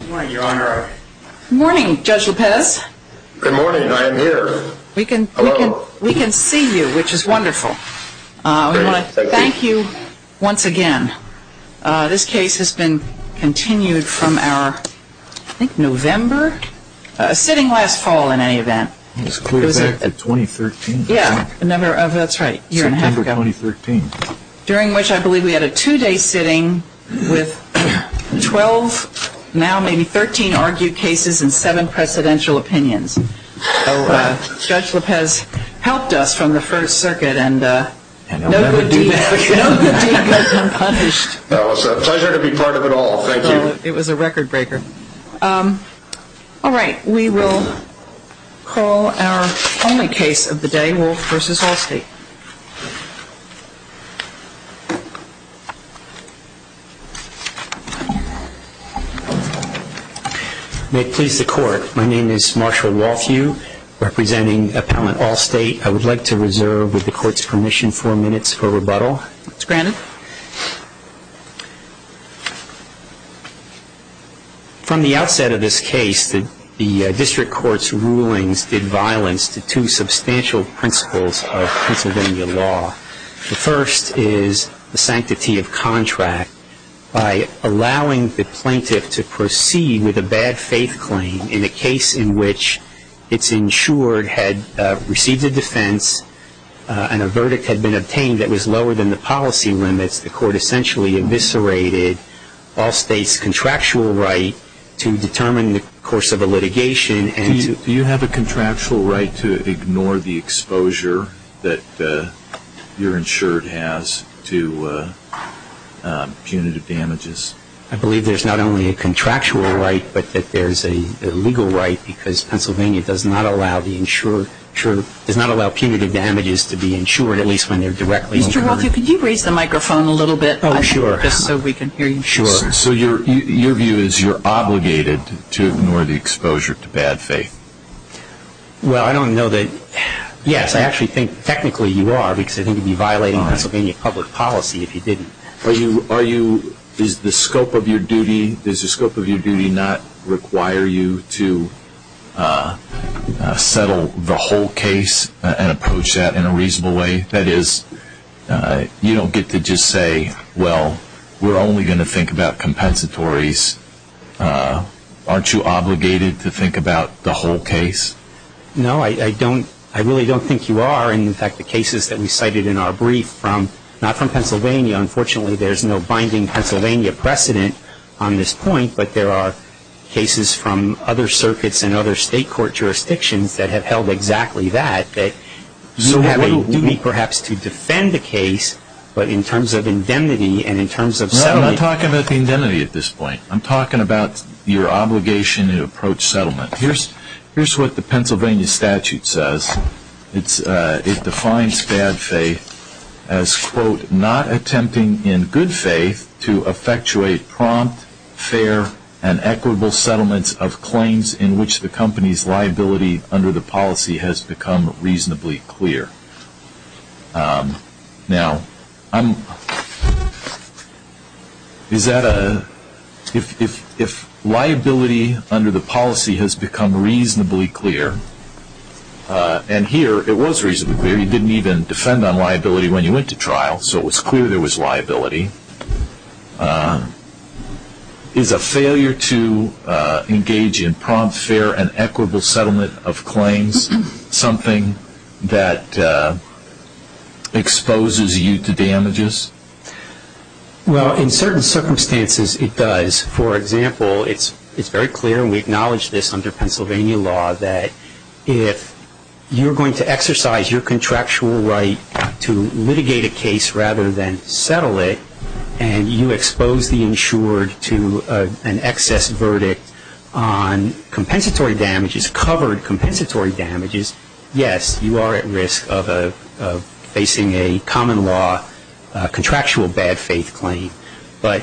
Good morning, Judge Lopez. Good morning, I am here. We can see you, which is wonderful. Thank you once again. This case has been continued from our, I think November, sitting last fall in any event. It was clear back in 2013. Yeah, that's right, a year and a half ago. During which I believe we had a two-day sitting with 12, now maybe 13 argued cases and 7 presidential opinions. So Judge Lopez helped us from the first circuit and no good deed has been punished. That was a pleasure to be part of it all. Thank you. It was a record breaker. All right, we will call our only case of the day, Wolfe v. All State. May it please the court, my name is Marshall Wolfe, representing appellant All State. I would like to reserve with the court's permission four minutes for rebuttal. It's granted. From the outset of this case, the district court's rulings did violence to two substantial principles of Pennsylvania law. The first is the sanctity of contract by allowing the plaintiff to proceed with a bad faith claim in a case in which it's insured had received a defense and a verdict had been obtained that was lower than the policy limits. The court essentially eviscerated All State's contractual right to determine the course of a litigation. Do you have a contractual right to ignore the exposure that you're insured has to punitive damages? I believe there's not only a contractual right, but that there's a legal right, because Pennsylvania does not allow punitive damages to be insured, at least when they're directly incurred. Mr. Wolfe, could you raise the microphone a little bit? Oh, sure. Just so we can hear you. Sure. So your view is you're obligated to ignore the exposure to bad faith? Well, I don't know that, yes, I actually think technically you are, because I think you'd be violating Pennsylvania public policy if you didn't. Does the scope of your duty not require you to settle the whole case and approach that in a reasonable way? That is, you don't get to just say, well, we're only going to think about compensatories. Aren't you obligated to think about the whole case? No, I really don't think you are. In fact, the cases that we cited in our brief, not from Pennsylvania, unfortunately there's no binding Pennsylvania precedent on this point, but there are cases from other circuits and other state court jurisdictions that have held exactly that, that you have a duty perhaps to defend the case, but in terms of indemnity and in terms of settlement. No, I'm talking about the indemnity at this point. I'm talking about your obligation to approach settlement. Here's what the Pennsylvania statute says. It defines bad faith as, quote, not attempting in good faith to effectuate prompt, fair, and equitable settlements of claims in which the company's liability under the policy has become reasonably clear. Now, if liability under the policy has become reasonably clear, and here it was reasonably clear. You didn't even defend on liability when you went to trial, so it was clear there was liability. Is a failure to engage in prompt, fair, and equitable settlement of claims something that exposes you to damages? Well, in certain circumstances it does. For example, it's very clear, and we acknowledge this under Pennsylvania law, that if you're going to exercise your contractual right to litigate a case rather than settle it, and you expose the insured to an excess verdict on compensatory damages, covered compensatory damages, yes, you are at risk of facing a common law contractual bad faith claim. But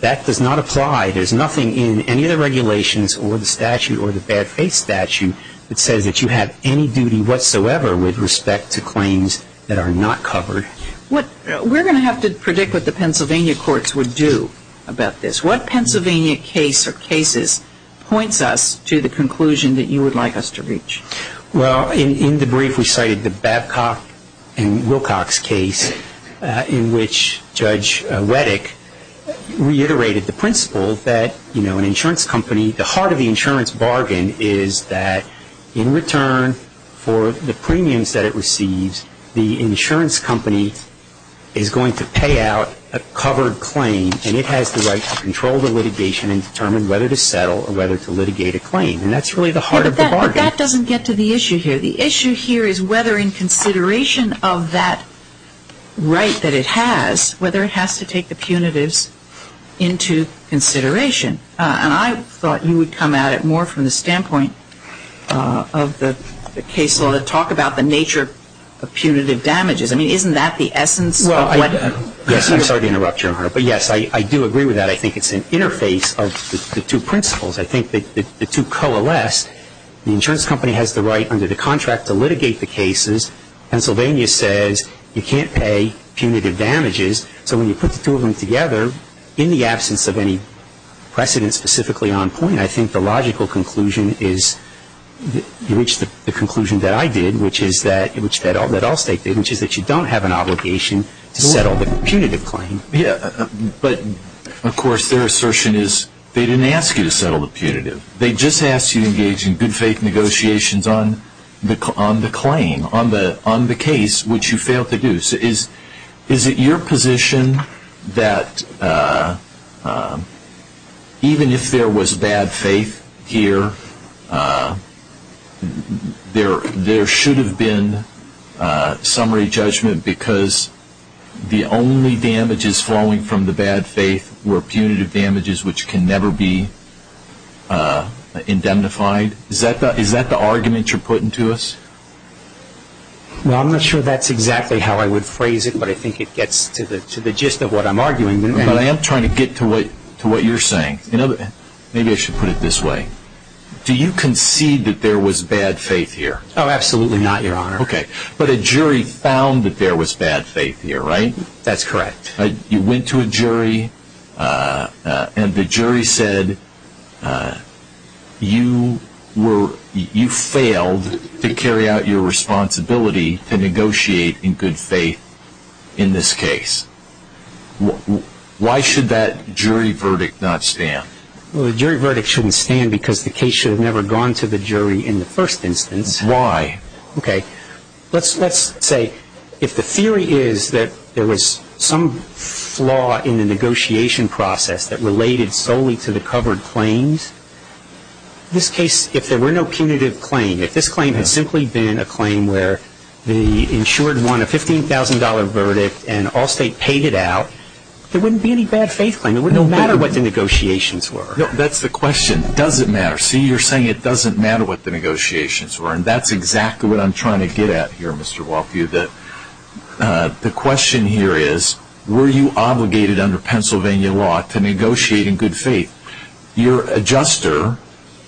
that does not apply. There's nothing in any of the regulations or the statute or the bad faith statute that says that you have any duty whatsoever with respect to claims that are not covered. We're going to have to predict what the Pennsylvania courts would do about this. What Pennsylvania case or cases points us to the conclusion that you would like us to reach? Well, in the brief we cited the Babcock and Wilcox case, in which Judge Wettig reiterated the principle that an insurance company, the heart of the insurance bargain is that in return for the premiums that it receives, the insurance company is going to pay out a covered claim, and it has the right to control the litigation and determine whether to settle or whether to litigate a claim. And that's really the heart of the bargain. But that doesn't get to the issue here. The issue here is whether in consideration of that right that it has, whether it has to take the punitives into consideration. And I thought you would come at it more from the standpoint of the case law to talk about the nature of punitive damages. I mean, isn't that the essence of what you're saying? Yes, I'm sorry to interrupt, Your Honor. But, yes, I do agree with that. I think it's an interface of the two principles. I think that the two coalesce. The insurance company has the right under the contract to litigate the cases. Pennsylvania says you can't pay punitive damages. So when you put the two of them together, in the absence of any precedent specifically on point, and I think the logical conclusion is you reach the conclusion that I did, which is that all states did, which is that you don't have an obligation to settle the punitive claim. Yes, but, of course, their assertion is they didn't ask you to settle the punitive. They just asked you to engage in good faith negotiations on the claim, on the case, which you failed to do. Is it your position that even if there was bad faith here, there should have been summary judgment because the only damages flowing from the bad faith were punitive damages which can never be indemnified? Is that the argument you're putting to us? Well, I'm not sure that's exactly how I would phrase it, but I think it gets to the gist of what I'm arguing. But I am trying to get to what you're saying. Maybe I should put it this way. Do you concede that there was bad faith here? Oh, absolutely not, Your Honor. Okay. But a jury found that there was bad faith here, right? That's correct. You went to a jury and the jury said you failed to carry out your responsibility to negotiate in good faith in this case. Why should that jury verdict not stand? Well, the jury verdict shouldn't stand because the case should have never gone to the jury in the first instance. Why? Okay. Let's say if the theory is that there was some flaw in the negotiation process that related solely to the covered claims, in this case, if there were no punitive claim, if this claim had simply been a claim where the insured won a $15,000 verdict and Allstate paid it out, there wouldn't be any bad faith claim. It wouldn't matter what the negotiations were. That's the question. Does it matter? See, you're saying it doesn't matter what the negotiations were, and that's exactly what I'm trying to get at here, Mr. Walkew. The question here is, were you obligated under Pennsylvania law to negotiate in good faith? Your adjuster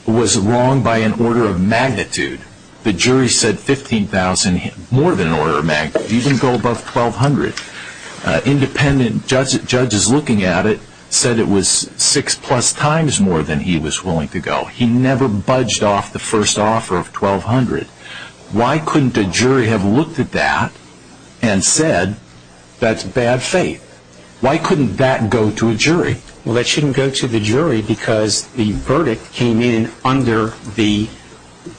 was wrong by an order of magnitude. The jury said $15,000, more than an order of magnitude. You didn't go above $1,200. Independent judges looking at it said it was six-plus times more than he was willing to go. He never budged off the first offer of $1,200. Why couldn't a jury have looked at that and said that's bad faith? Why couldn't that go to a jury? Well, that shouldn't go to the jury because the verdict came in under the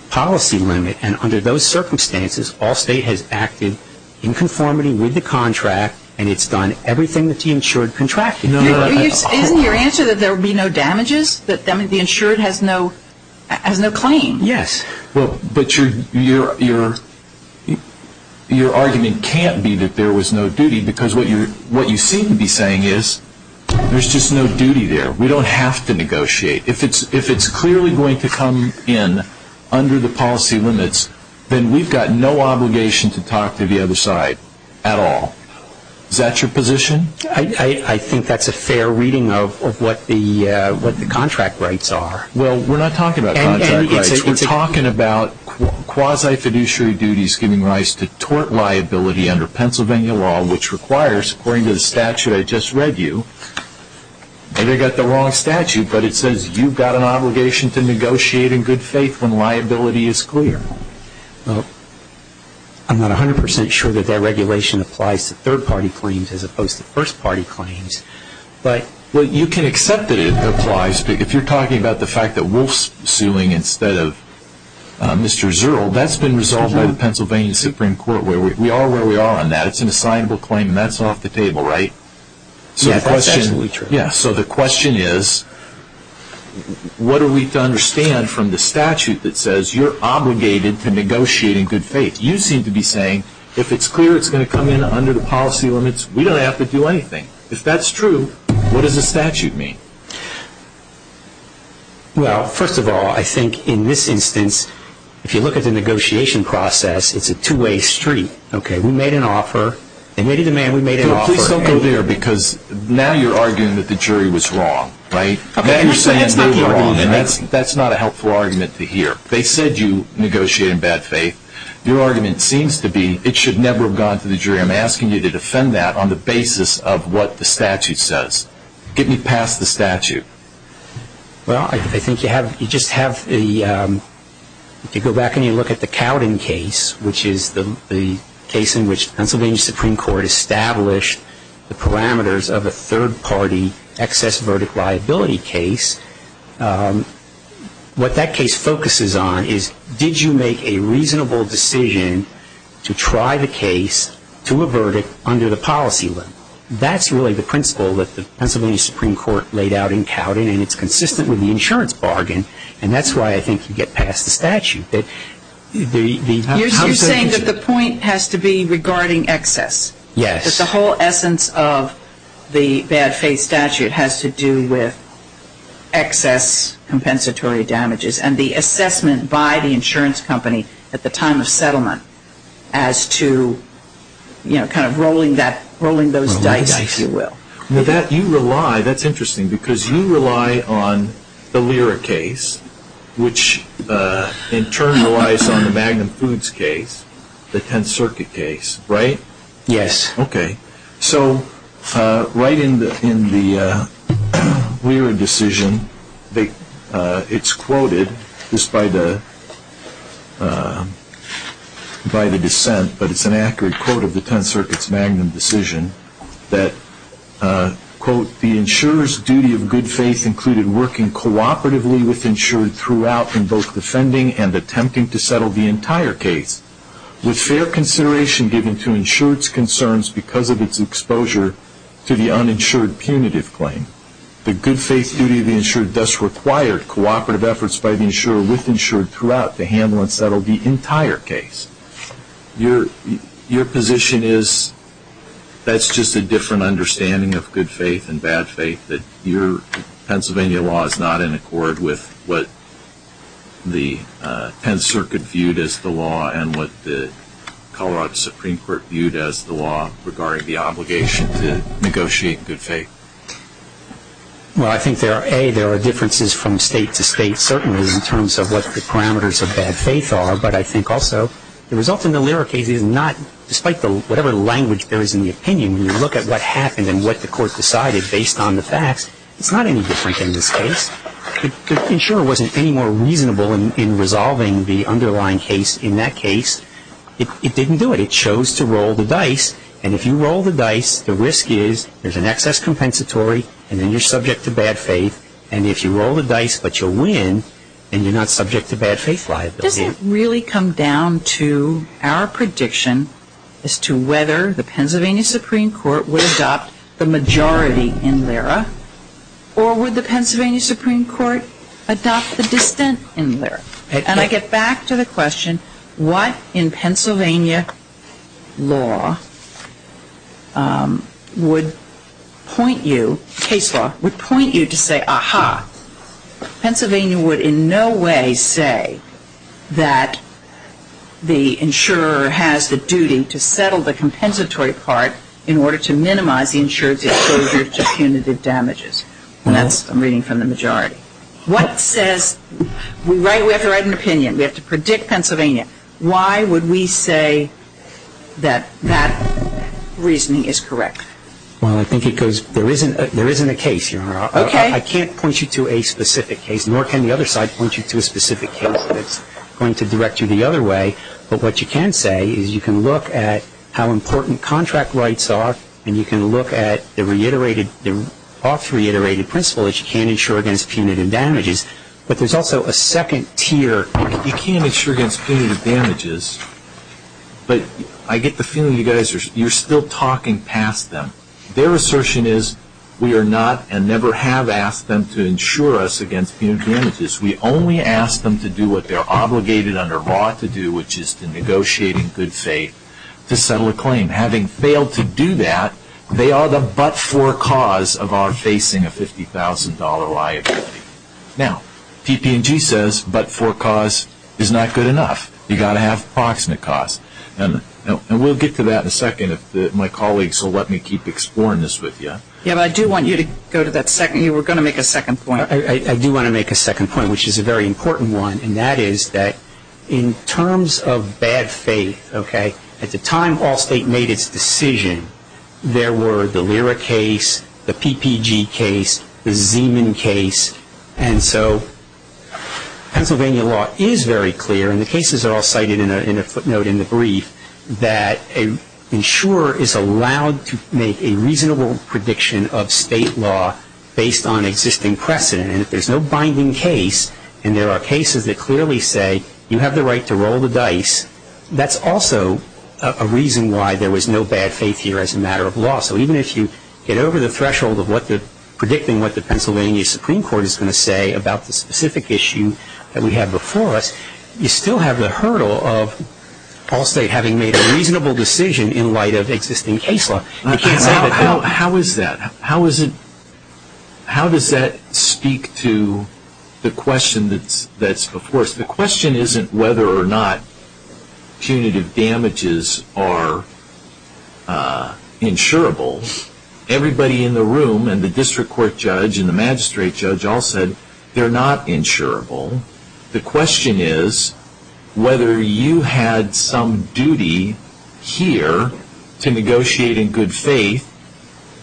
policy limit, and under those circumstances, Allstate has acted in conformity with the contract, and it's done everything that the insured contracted. Isn't your answer that there would be no damages? That the insured has no claim? Yes. But your argument can't be that there was no duty, because what you seem to be saying is there's just no duty there. We don't have to negotiate. If it's clearly going to come in under the policy limits, then we've got no obligation to talk to the other side at all. Is that your position? I think that's a fair reading of what the contract rights are. Well, we're not talking about contract rights. We're talking about quasi-fiduciary duties giving rise to tort liability under Pennsylvania law, which requires, according to the statute I just read you, maybe I got the wrong statute, but it says you've got an obligation to negotiate in good faith when liability is clear. Well, I'm not 100% sure that that regulation applies to third-party claims as opposed to first-party claims. Well, you can accept that it applies, but if you're talking about the fact that Wolf's suing instead of Mr. Zuerl, that's been resolved by the Pennsylvania Supreme Court. We are where we are on that. It's an assignable claim, and that's off the table, right? Yes, that's absolutely true. So the question is, what are we to understand from the statute that says you're obligated to negotiate in good faith? You seem to be saying if it's clear it's going to come in under the policy limits, we don't have to do anything. If that's true, what does the statute mean? Well, first of all, I think in this instance, if you look at the negotiation process, it's a two-way street. We made an offer. They made a demand. We made an offer. Don't go there, because now you're arguing that the jury was wrong, right? Now you're saying they were wrong, and that's not a helpful argument to hear. They said you negotiate in bad faith. Your argument seems to be it should never have gone to the jury. I'm asking you to defend that on the basis of what the statute says. Get me past the statute. Well, I think you just have to go back and you look at the Cowden case, which is the case in which Pennsylvania Supreme Court established the parameters of a third-party excess verdict liability case. What that case focuses on is did you make a reasonable decision to try the case to a verdict under the policy limit? That's really the principle that the Pennsylvania Supreme Court laid out in Cowden, and it's consistent with the insurance bargain, and that's why I think you get past the statute. You're saying that the point has to be regarding excess. Yes. That the whole essence of the bad faith statute has to do with excess compensatory damages and the assessment by the insurance company at the time of settlement as to kind of rolling those dice, if you will. That's interesting because you rely on the Lira case, which in turn relies on the Magnum Foods case, the Tenth Circuit case, right? Yes. Okay. So right in the Lira decision, it's quoted just by the dissent, but it's an accurate quote of the Tenth Circuit's Magnum decision that, quote, the insurer's duty of good faith included working cooperatively with insured throughout in both defending and attempting to settle the entire case, with fair consideration given to insured's concerns because of its exposure to the uninsured punitive claim. The good faith duty of the insured thus required cooperative efforts by the insurer with insured throughout to handle and settle the entire case. Your position is that's just a different understanding of good faith and bad faith that your Pennsylvania law is not in accord with what the Tenth Circuit viewed as the law and what the Colorado Supreme Court viewed as the law regarding the obligation to negotiate good faith. Well, I think there are, A, there are differences from state to state, certainly in terms of what the parameters of bad faith are, but I think also the result in the Lira case is not, despite whatever language there is in the opinion, when you look at what happened and what the court decided based on the facts, it's not any different in this case. The insurer wasn't any more reasonable in resolving the underlying case in that case. It didn't do it. It chose to roll the dice. And if you roll the dice, the risk is there's an excess compensatory and then you're subject to bad faith. And if you roll the dice, but you'll win and you're not subject to bad faith liability. Does it really come down to our prediction as to whether the Pennsylvania Supreme Court would adopt the majority in Lira or would the Pennsylvania Supreme Court adopt the dissent in Lira? And I get back to the question, what in Pennsylvania law would point you, case law, would point you to say, aha, Pennsylvania would in no way say that the insurer has the duty to settle the compensatory part in order to minimize the insurer's exposure to punitive damages. And that's, I'm reading from the majority. What says, we have to write an opinion. We have to predict Pennsylvania. Why would we say that that reasoning is correct? Well, I think it goes, there isn't a case, Your Honor. Okay. I can't point you to a specific case, nor can the other side point you to a specific case that's going to direct you the other way. But what you can say is you can look at how important contract rights are and you can look at the reiterated, the oft reiterated principle that you can't insure against punitive damages. But there's also a second tier. You can't insure against punitive damages. But I get the feeling you guys are, you're still talking past them. Their assertion is we are not and never have asked them to insure us against punitive damages. We only ask them to do what they're obligated under law to do, which is to negotiate in good faith to settle a claim. Having failed to do that, they are the but-for cause of our facing a $50,000 liability. Now, TP&G says but-for cause is not good enough. You've got to have proximate cause. And we'll get to that in a second if my colleagues will let me keep exploring this with you. Yeah, but I do want you to go to that second. You were going to make a second point. I do want to make a second point, which is a very important one. And that is that in terms of bad faith, okay, at the time Allstate made its decision, there were the Lyra case, the PPG case, the Zeeman case. And so Pennsylvania law is very clear. And the cases are all cited in a footnote in the brief that an insurer is allowed to make a reasonable prediction of state law based on existing precedent. And if there's no binding case and there are cases that clearly say you have the right to roll the dice, that's also a reason why there was no bad faith here as a matter of law. So even if you get over the threshold of predicting what the Pennsylvania Supreme Court is going to say about the specific issue that we have before us, you still have the hurdle of Allstate having made a reasonable decision in light of existing case law. How is that? How does that speak to the question that's before us? The question isn't whether or not punitive damages are insurable. Everybody in the room and the district court judge and the magistrate judge all said they're not insurable. The question is whether you had some duty here to negotiate in good faith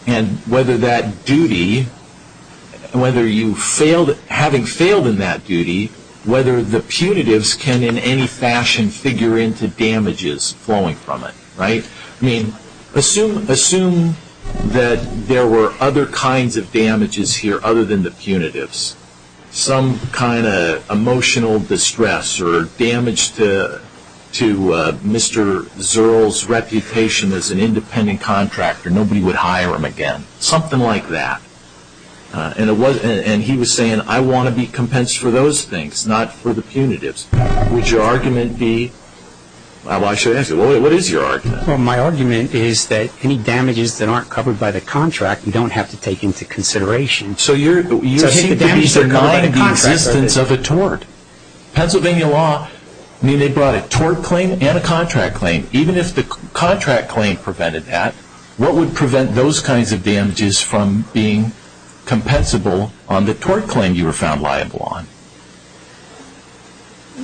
and whether that duty, whether you failed, having failed in that duty, whether the punitives can in any fashion figure into damages flowing from it, right? I mean, assume that there were other kinds of damages here other than the punitives. Some kind of emotional distress or damage to Mr. Zerl's reputation as an independent contractor. Nobody would hire him again. Something like that. And he was saying, I want to be compensed for those things, not for the punitives. Would your argument be, well, I should ask you, what is your argument? Well, my argument is that any damages that aren't covered by the contract, you don't have to take into consideration. So you're saying the damages are not in the existence of a tort. Pennsylvania law, I mean, they brought a tort claim and a contract claim. Even if the contract claim prevented that, what would prevent those kinds of damages from being compensable on the tort claim you were found liable on?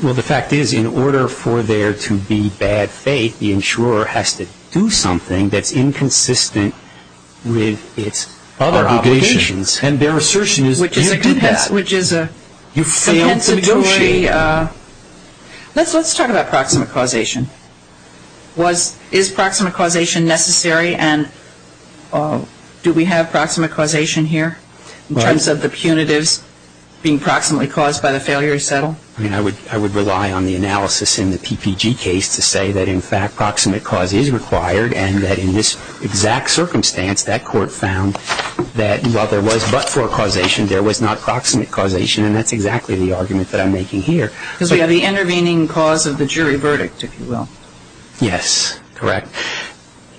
Well, the fact is, in order for there to be bad faith, the insurer has to do something that's inconsistent with its other obligations. And their assertion is you can't do that. Which is a compensatory. Let's talk about proximate causation. Is proximate causation necessary? And do we have proximate causation here in terms of the punitives being approximately caused by the failure to settle? I mean, I would rely on the analysis in the PPG case to say that, in fact, proximate cause is required and that in this exact circumstance, that court found that while there was but-for causation, there was not proximate causation. And that's exactly the argument that I'm making here. Because we have the intervening cause of the jury verdict, if you will. Yes. Correct.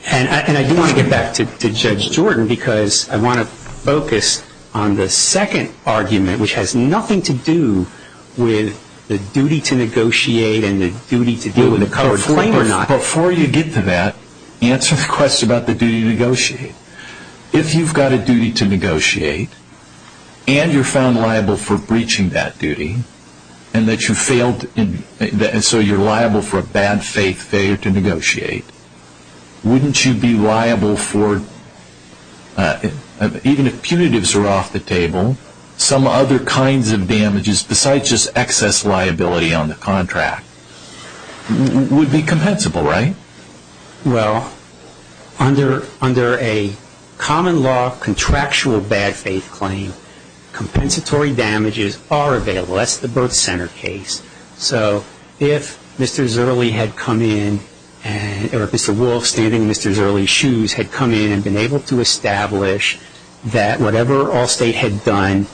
And I do want to get back to Judge Jordan because I want to focus on the second argument, which has nothing to do with the duty to negotiate and the duty to deal with the covered claim or not. Before you get to that, answer the question about the duty to negotiate. If you've got a duty to negotiate and you're found liable for breaching that duty and so you're liable for a bad faith failure to negotiate, wouldn't you be liable for even if punitives are off the table, some other kinds of damages besides just excess liability on the contract would be compensable, right? Well, under a common law contractual bad faith claim, compensatory damages are available. That's the birth center case. So if Mr. Zerley had come in or if Mr. Wolf standing in Mr. Zerley's shoes had come in and been able to establish that whatever Allstate had done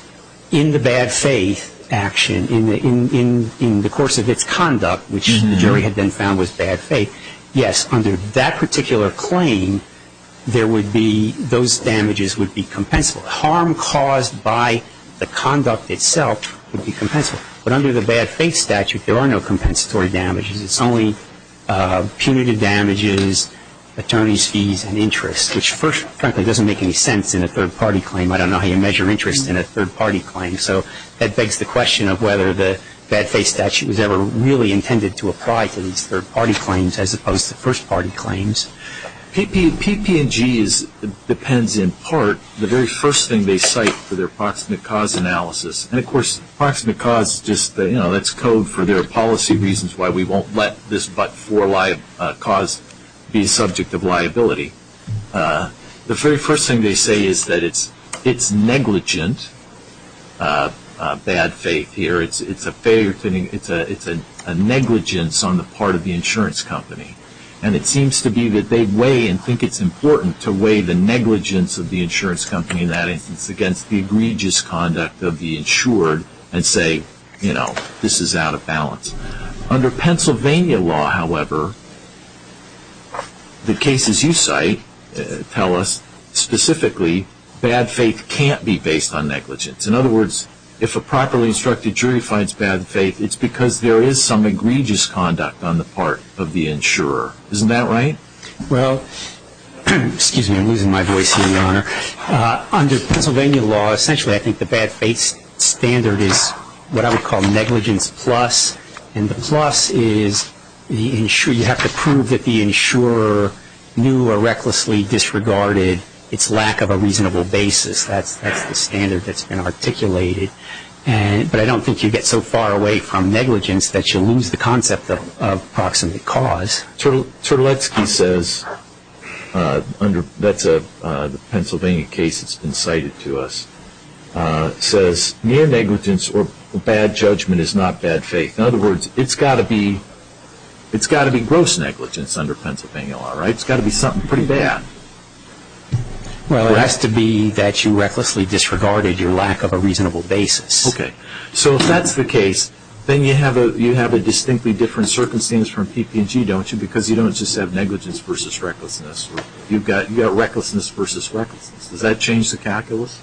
in the bad faith action, in the course of its conduct, which the jury had then found was bad faith, yes, under that particular claim, those damages would be compensable. Harm caused by the conduct itself would be compensable. But under the bad faith statute, there are no compensatory damages. It's only punitive damages, attorney's fees and interest, which first, frankly, doesn't make any sense in a third-party claim. I don't know how you measure interest in a third-party claim. So that begs the question of whether the bad faith statute was ever really intended to apply to these third-party claims as opposed to first-party claims. PPG depends in part the very first thing they cite for their approximate cause analysis. And, of course, approximate cause, you know, that's code for their policy reasons why we won't let this but-for cause be subject of liability. The very first thing they say is that it's negligent, bad faith here, it's a negligence on the part of the insurance company. And it seems to be that they weigh and think it's important to weigh the negligence of the insurance company in that instance against the egregious conduct of the insured and say, you know, this is out of balance. Under Pennsylvania law, however, the cases you cite tell us specifically bad faith can't be based on negligence. In other words, if a properly instructed jury finds bad faith, it's because there is some egregious conduct on the part of the insurer. Isn't that right? Well, excuse me, I'm losing my voice here, Your Honor. Under Pennsylvania law, essentially I think the bad faith standard is what I would call negligence plus. And the plus is you have to prove that the insurer knew or recklessly disregarded its lack of a reasonable basis. That's the standard that's been articulated. But I don't think you get so far away from negligence that you lose the concept of approximate cause. Turlecki says, that's a Pennsylvania case that's been cited to us, says near negligence or bad judgment is not bad faith. In other words, it's got to be gross negligence under Pennsylvania law, right? It's got to be something pretty bad. Well, it has to be that you recklessly disregarded your lack of a reasonable basis. Okay. So if that's the case, then you have a distinctly different circumstance from PP&G, don't you? Because you don't just have negligence versus recklessness. You've got recklessness versus recklessness. Does that change the calculus?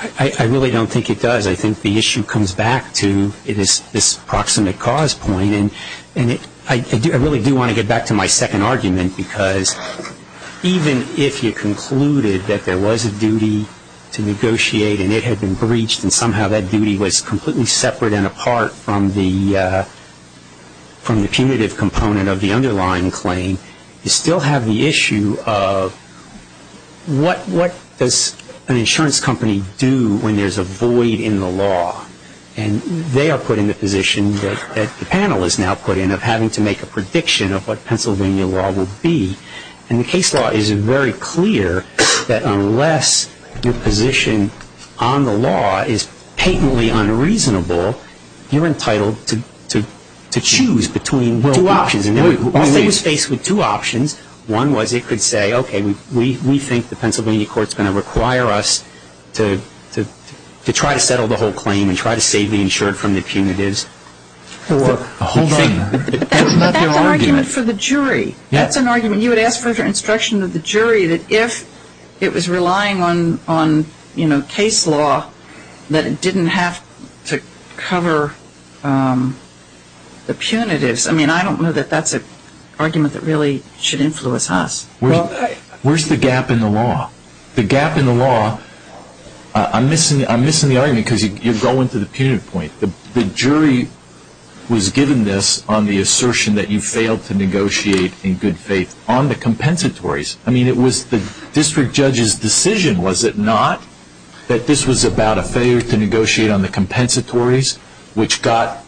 I really don't think it does. I think the issue comes back to this approximate cause point. And I really do want to get back to my second argument, because even if you concluded that there was a duty to negotiate and it had been breached and somehow that duty was completely separate and apart from the punitive component of the underlying claim, you still have the issue of what does an insurance company do when there's a void in the law. And they are put in the position that the panel is now put in, of having to make a prediction of what Pennsylvania law will be. And the case law is very clear that unless your position on the law is patently unreasonable, you're entitled to choose between two options. Once they were faced with two options, one was it could say, okay, we think the Pennsylvania court is going to require us to try to settle the whole claim and try to save the insured from the punitives. Hold on. But that's an argument for the jury. That's an argument. You would ask for the instruction of the jury that if it was relying on case law, that it didn't have to cover the punitives. I mean, I don't know that that's an argument that really should influence us. Where's the gap in the law? The gap in the law, I'm missing the argument because you're going to the punitive point. The jury was given this on the assertion that you failed to negotiate in good faith on the compensatories. I mean, it was the district judge's decision, was it not, that this was about a failure to negotiate on the compensatories, which got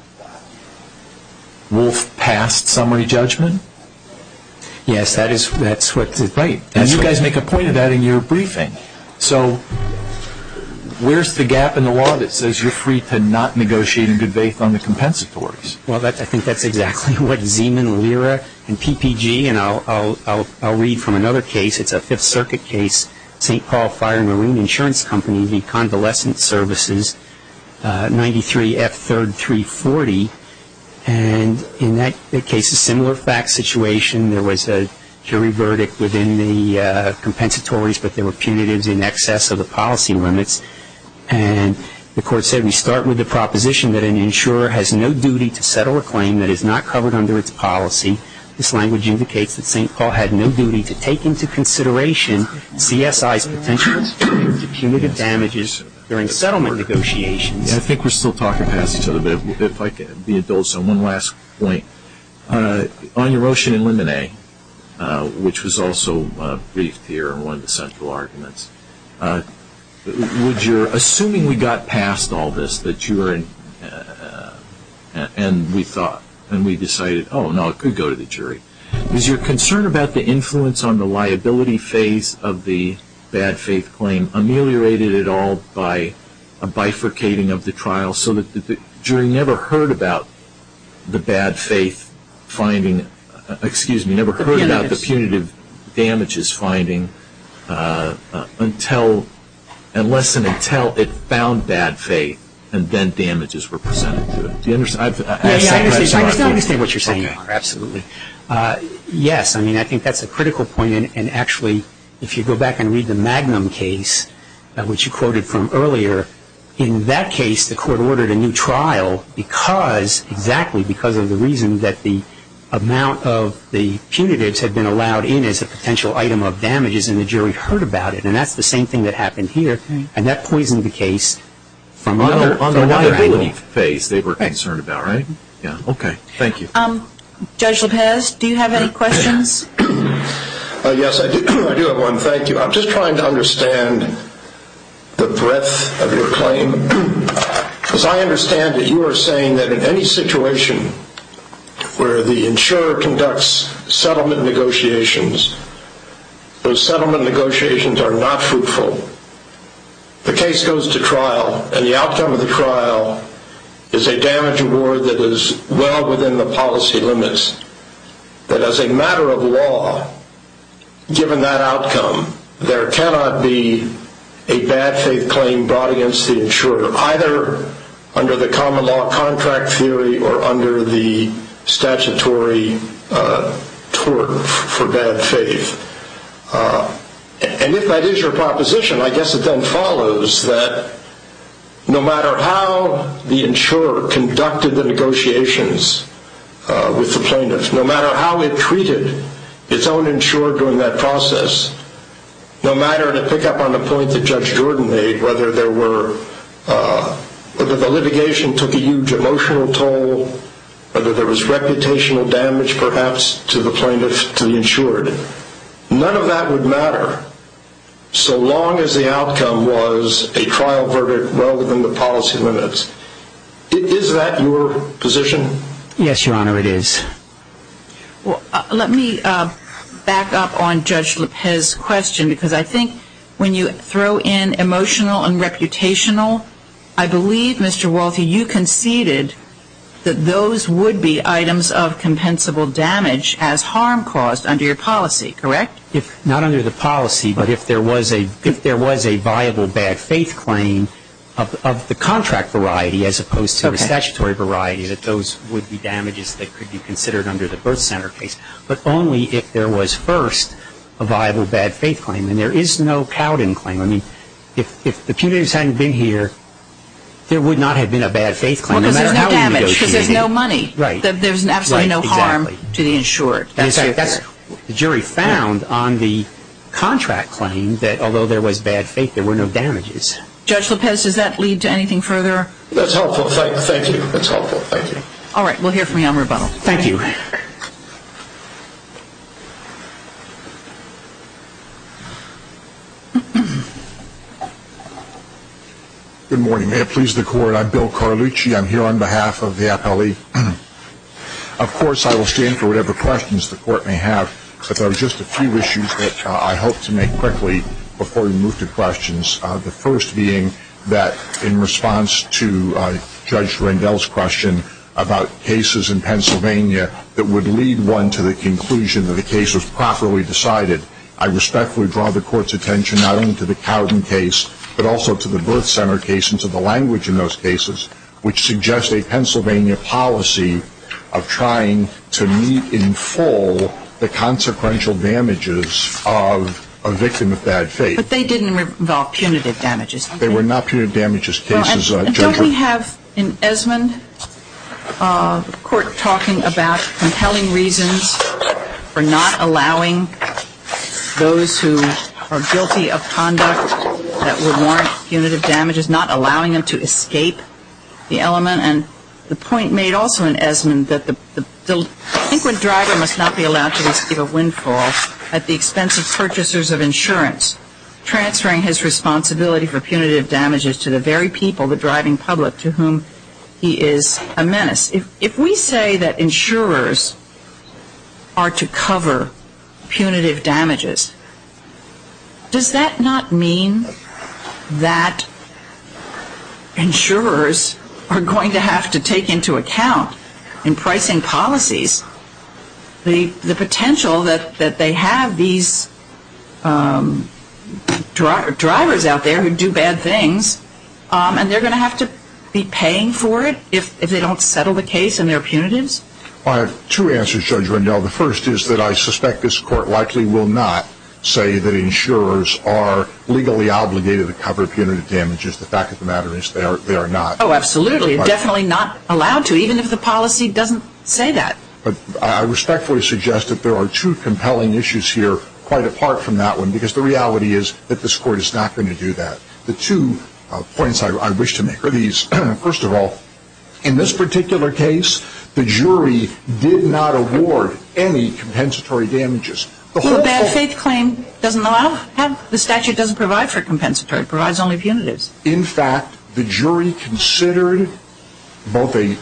Wolf past summary judgment? Yes, that's right. And you guys make a point of that in your briefing. So where's the gap in the law that says you're free to not negotiate in good faith on the compensatories? Well, I think that's exactly what Zeeman, Lira, and PPG, and I'll read from another case. It's a Fifth Circuit case, St. Paul Fire and Marine Insurance Company, the convalescent services, 93F 3rd 340. And in that case, a similar fact situation. There was a jury verdict within the compensatories, but there were punitives in excess of the policy limits. And the court said we start with the proposition that an insurer has no duty to settle a claim that is not covered under its policy. This language indicates that St. Paul had no duty to take into consideration CSI's potential for punitive damages during settlement negotiations. I think we're still talking past each other. But if I can be indulgent on one last point. On Erosion and Lemonade, which was also briefed here in one of the central arguments, assuming we got past all this and we decided, oh, no, it could go to the jury, is your concern about the influence on the liability phase of the bad faith claim ameliorated at all by a bifurcating of the trial so that the jury never heard about the bad faith finding, excuse me, never heard about the punitive damages finding unless and until it found bad faith and then damages were presented to it? I just don't understand what you're saying. Absolutely. Yes, I mean, I think that's a critical point. And actually, if you go back and read the Magnum case, which you quoted from earlier, in that case the court ordered a new trial exactly because of the reason that the amount of the punitives had been allowed in as a potential item of damages and the jury heard about it. And that's the same thing that happened here. And that poisoned the case from the liability phase they were concerned about, right? Okay. Thank you. Judge Lopez, do you have any questions? Yes, I do have one. Thank you. I'm just trying to understand the breadth of your claim. Because I understand that you are saying that in any situation where the insurer conducts settlement negotiations, those settlement negotiations are not fruitful. The case goes to trial, and the outcome of the trial is a damage award that is well within the policy limits. But as a matter of law, given that outcome, there cannot be a bad faith claim brought against the insurer, either under the common law contract theory or under the statutory tort for bad faith. And if that is your proposition, I guess it then follows that no matter how the insurer conducted the negotiations with the plaintiff, no matter how it treated its own insurer during that process, no matter, to pick up on the point that Judge Jordan made, whether the litigation took a huge emotional toll, whether there was reputational damage, perhaps, to the plaintiff, to the insured, none of that would matter so long as the outcome was a trial verdict well within the policy limits. Is that your position? Yes, Your Honor, it is. Well, let me back up on Judge LePez's question. Because I think when you throw in emotional and reputational, I believe, Mr. Walthy, you conceded that those would be items of compensable damage as harm caused under your policy, correct? Not under the policy, but if there was a viable bad faith claim of the contract variety as opposed to the statutory variety, that those would be damages that could be considered under the birth center case. But only if there was first a viable bad faith claim. And there is no Cowden claim. I mean, if the punitives hadn't been here, there would not have been a bad faith claim. Well, because there's no damage, because there's no money. Right. There's absolutely no harm to the insured. In fact, the jury found on the contract claim that although there was bad faith, there were no damages. Judge LePez, does that lead to anything further? That's helpful. Thank you. That's helpful. Thank you. All right. We'll hear from you on rebuttal. Thank you. Good morning. May it please the Court. I'm Bill Carlucci. I'm here on behalf of the appellee. Of course, I will stand for whatever questions the Court may have. But there are just a few issues that I hope to make quickly before we move to questions. The first being that in response to Judge Randell's question about cases in Pennsylvania that would lead one to the conclusion that the case was properly decided, I respectfully draw the Court's attention not only to the Cowden case, but also to the birth center case and to the language in those cases, which suggest a Pennsylvania policy of trying to meet in full the consequential damages of a victim of bad faith. But they didn't involve punitive damages, did they? They were not punitive damages cases, Judge. Don't we have in Esmond a court talking about compelling reasons for not allowing those who are guilty of conduct that would warrant punitive damages, not allowing them to escape the element? And the point made also in Esmond that the delinquent driver must not be allowed to receive a windfall at the expense of purchasers of insurance, transferring his responsibility for punitive damages to the very people, the driving public, to whom he is a menace. If we say that insurers are to cover punitive damages, does that not mean that insurers are going to have to take into account in pricing policies the potential that they have these drivers out there who do bad things and they're going to have to be paying for it if they don't settle the case and there are punitives? I have two answers, Judge Rendell. The first is that I suspect this court likely will not say that insurers are legally obligated to cover punitive damages. The fact of the matter is they are not. Oh, absolutely. Definitely not allowed to, even if the policy doesn't say that. But I respectfully suggest that there are two compelling issues here quite apart from that one because the reality is that this court is not going to do that. The two points I wish to make are these. First of all, in this particular case, the jury did not award any compensatory damages. Well, a bad faith claim doesn't allow that? The statute doesn't provide for compensatory. It provides only punitives. In fact, the jury considered both a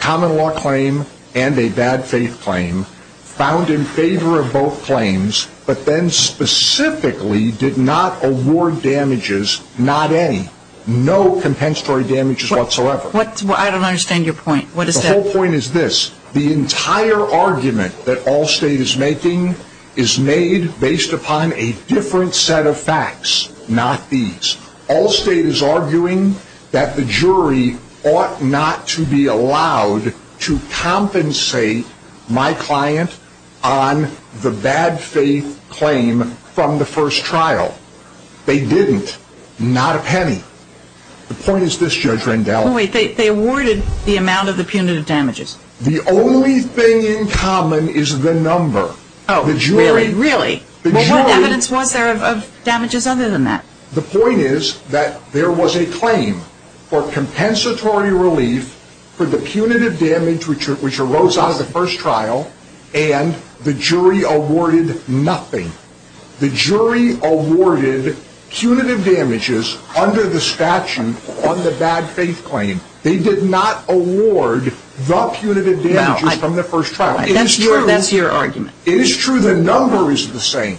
common law claim and a bad faith claim found in favor of both claims, but then specifically did not award damages, not any. No compensatory damages whatsoever. I don't understand your point. The whole point is this. The entire argument that Allstate is making is made based upon a different set of facts, not these. Allstate is arguing that the jury ought not to be allowed to compensate my client on the bad faith claim from the first trial. They didn't. Not a penny. The point is this, Judge Rendell. Wait, they awarded the amount of the punitive damages. The only thing in common is the number. Oh, really? Really? What evidence was there of damages other than that? The point is that there was a claim for compensatory relief for the punitive damage which arose out of the first trial, and the jury awarded nothing. The jury awarded punitive damages under the statute on the bad faith claim. They did not award the punitive damages from the first trial. That's your argument. It is true the number is the same,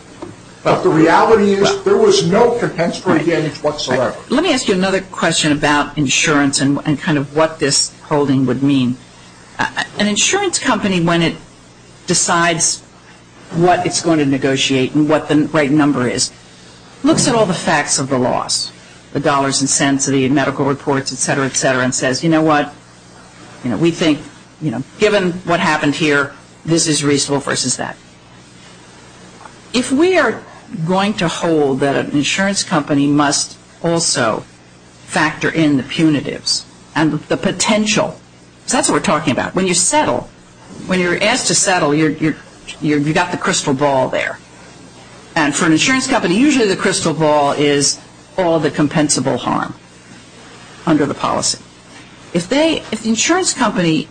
but the reality is there was no compensatory damage whatsoever. Let me ask you another question about insurance and kind of what this holding would mean. An insurance company, when it decides what it's going to negotiate and what the right number is, looks at all the facts of the loss, the dollars and cents and the medical reports, et cetera, et cetera, and says, you know what, we think given what happened here, this is reasonable versus that. If we are going to hold that an insurance company must also factor in the punitives and the potential, because that's what we're talking about. When you settle, when you're asked to settle, you've got the crystal ball there. And for an insurance company, usually the crystal ball is all the compensable harm under the policy. If the insurance company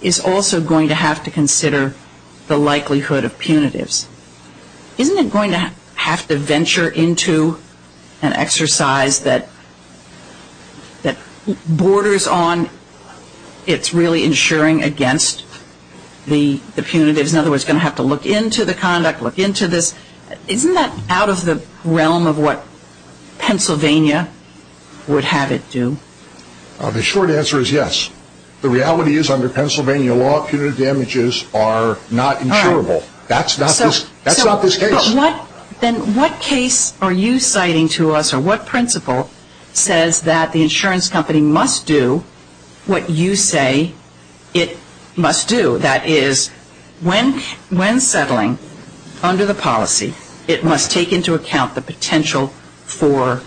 is also going to have to consider the likelihood of punitives, isn't it going to have to venture into an exercise that borders on its really insuring against the punitives? In other words, it's going to have to look into the conduct, look into this. Isn't that out of the realm of what Pennsylvania would have it do? The short answer is yes. The reality is under Pennsylvania law, punitive damages are not insurable. That's not this case. Then what case are you citing to us or what principle says that the insurance company must do what you say it must do? That is, when settling under the policy, it must take into account the potential for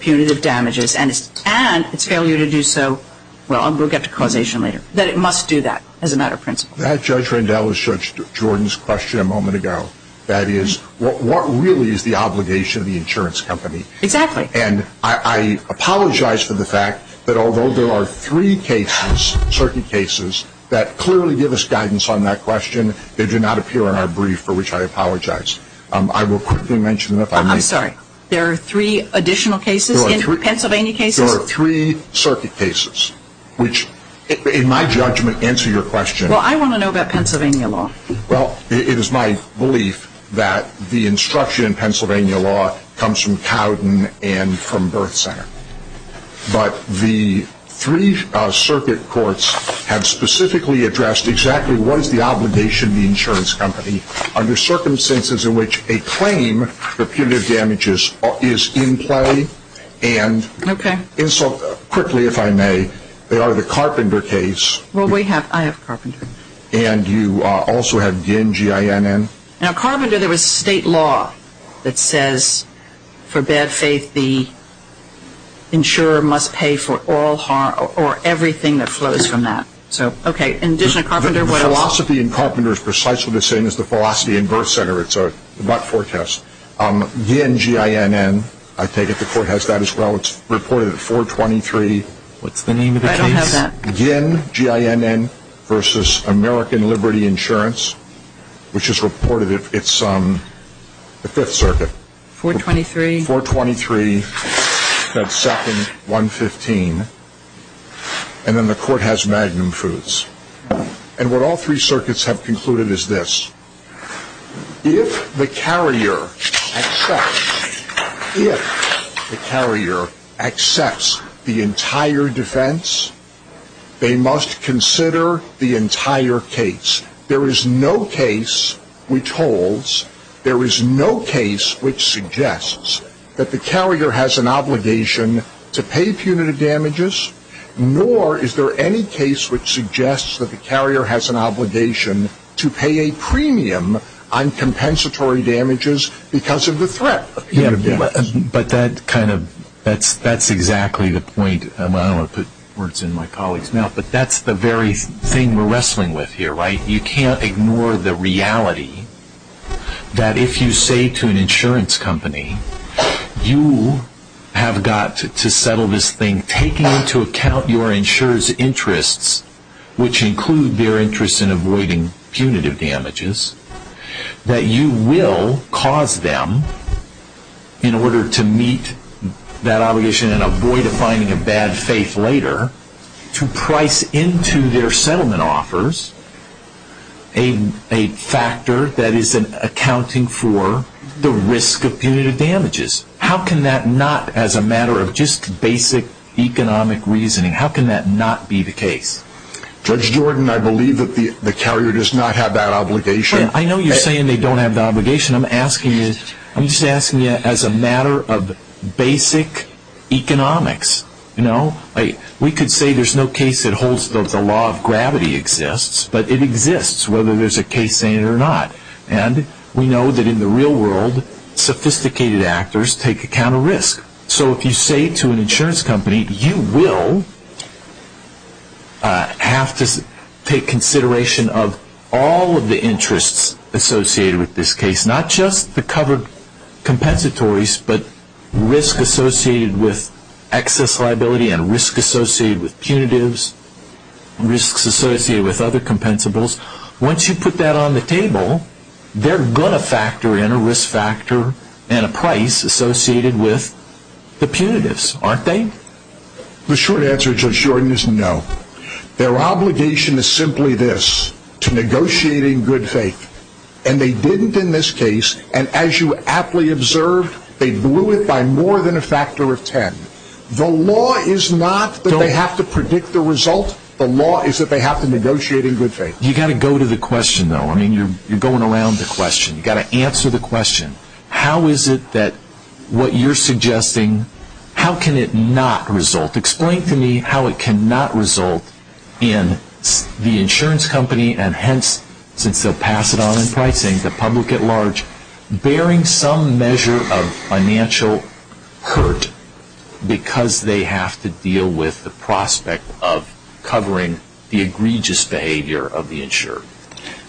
punitive damages and its failure to do so, well, we'll get to causation later, that it must do that as a matter of principle. That, Judge Rendell, was Judge Jordan's question a moment ago. That is, what really is the obligation of the insurance company? Exactly. And I apologize for the fact that although there are three cases, circuit cases, that clearly give us guidance on that question, they do not appear in our brief, for which I apologize. I will quickly mention them if I may. I'm sorry. There are three additional cases in Pennsylvania cases? There are three circuit cases, which in my judgment answer your question. Well, I want to know about Pennsylvania law. Well, it is my belief that the instruction in Pennsylvania law comes from Cowden and from Birth Center. But the three circuit courts have specifically addressed exactly what is the obligation of the insurance company under circumstances in which a claim for punitive damages is in play. Okay. And so quickly, if I may, they are the Carpenter case. Well, I have Carpenter. And you also have Ginn, G-I-N-N. Now, Carpenter, there was state law that says for bad faith, the insurer must pay for all harm or everything that flows from that. So, okay. In addition to Carpenter, what else? The philosophy in Carpenter is precisely the same as the philosophy in Birth Center. It's a but-for test. Ginn, G-I-N-N, I take it the court has that as well. It's reported at 423. What's the name of the case? I don't have that. Ginn, G-I-N-N, versus American Liberty Insurance, which is reported, it's the Fifth Circuit. 423. 423. That's second, 115. And then the court has Magnum Foods. And what all three circuits have concluded is this. If the carrier accepts the entire defense, they must consider the entire case. There is no case which holds, there is no case which suggests that the carrier has an obligation to pay punitive damages, nor is there any case which suggests that the carrier has an obligation to pay a premium on compensatory damages because of the threat of punitive damages. Yeah, but that kind of, that's exactly the point. I don't want to put words in my colleague's mouth, but that's the very thing we're wrestling with here, right? You can't ignore the reality that if you say to an insurance company, you have got to settle this thing taking into account your insurer's interests, which include their interest in avoiding punitive damages, that you will cause them, in order to meet that obligation and avoid finding a bad faith later, to price into their settlement offers a factor that is accounting for the risk of punitive damages. How can that not, as a matter of just basic economic reasoning, how can that not be the case? Judge Jordan, I believe that the carrier does not have that obligation. I know you're saying they don't have that obligation. I'm asking you, I'm just asking you as a matter of basic economics. We could say there's no case that holds that the law of gravity exists, but it exists whether there's a case saying it or not. And we know that in the real world, sophisticated actors take account of risk. So if you say to an insurance company, you will have to take consideration of all of the interests associated with this case, not just the covered compensatories, but risk associated with excess liability and risk associated with punitives, risks associated with other compensables. Once you put that on the table, they're going to factor in a risk factor and a price associated with the punitives, aren't they? The short answer, Judge Jordan, is no. Their obligation is simply this, to negotiating good faith. And they didn't in this case. And as you aptly observed, they blew it by more than a factor of ten. The law is not that they have to predict the result. The law is that they have to negotiate in good faith. You've got to go to the question, though. I mean, you're going around the question. You've got to answer the question. How is it that what you're suggesting, how can it not result? Explain to me how it cannot result in the insurance company, and hence, since they'll pass it on in pricing, the public at large, bearing some measure of financial hurt because they have to deal with the prospect of covering the egregious behavior of the insurer.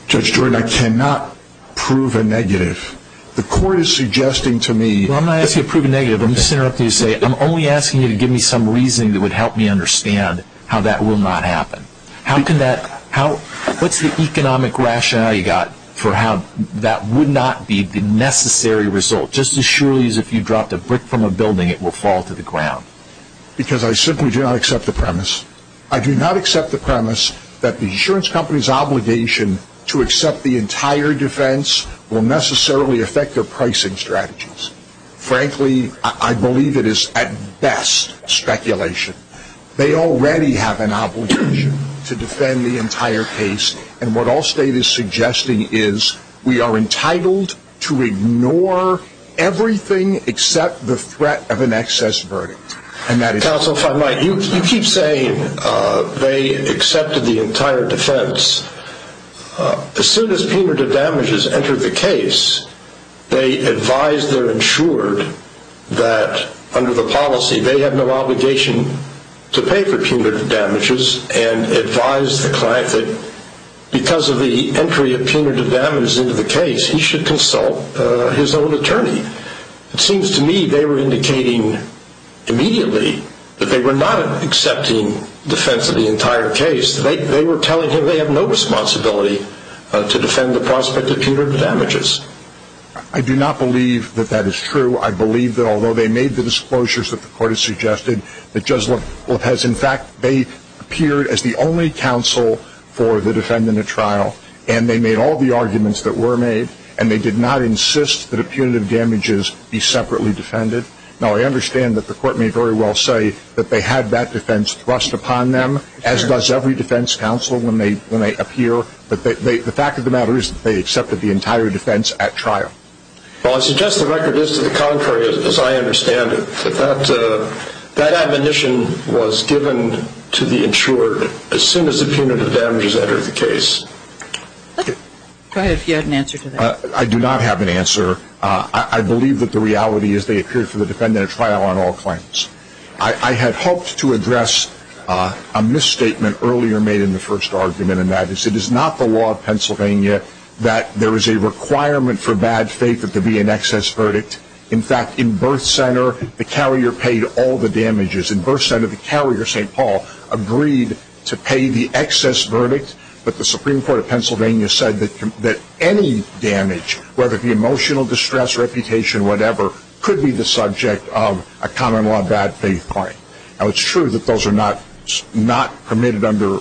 Judge Jordan, I cannot prove a negative. The court is suggesting to me. Well, I'm not asking you to prove a negative. I'm just interrupting you to say I'm only asking you to give me some reasoning that would help me understand how that will not happen. What's the economic rationale you've got for how that would not be the necessary result? Just as surely as if you dropped a brick from a building, it will fall to the ground. Because I simply do not accept the premise. I do not accept the premise that the insurance company's obligation to accept the entire defense will necessarily affect their pricing strategies. Frankly, I believe it is, at best, speculation. They already have an obligation to defend the entire case, and what Allstate is suggesting is we are entitled to ignore everything except the threat of an excess verdict. Counsel, if I might, you keep saying they accepted the entire defense. As soon as punitive damages entered the case, they advised their insured that under the policy they have no obligation to pay for punitive damages and advised the client that because of the entry of punitive damages into the case, he should consult his own attorney. It seems to me they were indicating immediately that they were not accepting defense of the entire case. They were telling him they have no responsibility to defend the prospect of punitive damages. I do not believe that that is true. I believe that although they made the disclosures that the court has suggested, that Judge Lopez, in fact, they appeared as the only counsel for the defendant at trial, and they made all the arguments that were made, and they did not insist that punitive damages be separately defended. Now, I understand that the court may very well say that they had that defense thrust upon them, as does every defense counsel when they appear, but the fact of the matter is that they accepted the entire defense at trial. Well, I suggest the record is to the contrary, as I understand it, that that admonition was given to the insured as soon as the punitive damages entered the case. Go ahead, if you had an answer to that. I do not have an answer. I believe that the reality is they appeared for the defendant at trial on all claims. I had hoped to address a misstatement earlier made in the first argument, and that is it is not the law of Pennsylvania that there is a requirement for bad faith that there be an excess verdict. In fact, in birth center, the carrier paid all the damages. In birth center, the carrier, St. Paul, agreed to pay the excess verdict, but the Supreme Court of Pennsylvania said that any damage, whether it be emotional distress, reputation, whatever, could be the subject of a common law bad faith claim. Now, it's true that those are not permitted under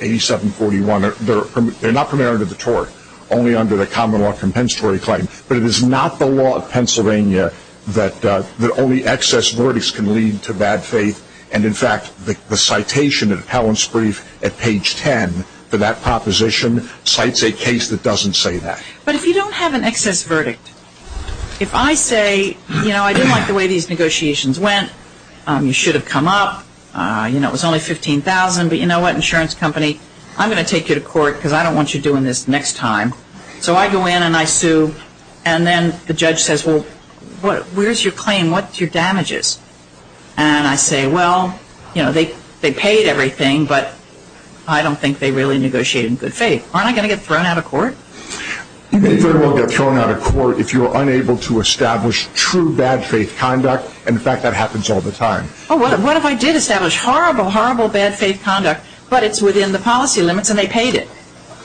8741. They're not permitted under the tort, only under the common law compensatory claim, but it is not the law of Pennsylvania that only excess verdicts can lead to bad faith, and, in fact, the citation at Appellant's brief at page 10 for that proposition cites a case that doesn't say that. But if you don't have an excess verdict, if I say, you know, I didn't like the way these negotiations went. You should have come up. You know, it was only $15,000, but you know what, insurance company, I'm going to take you to court because I don't want you doing this next time. So I go in and I sue, and then the judge says, well, where's your claim? What's your damages? And I say, well, you know, they paid everything, but I don't think they really negotiated in good faith. Aren't I going to get thrown out of court? You may very well get thrown out of court if you're unable to establish true bad faith conduct, and, in fact, that happens all the time. Oh, what if I did establish horrible, horrible bad faith conduct, but it's within the policy limits and they paid it?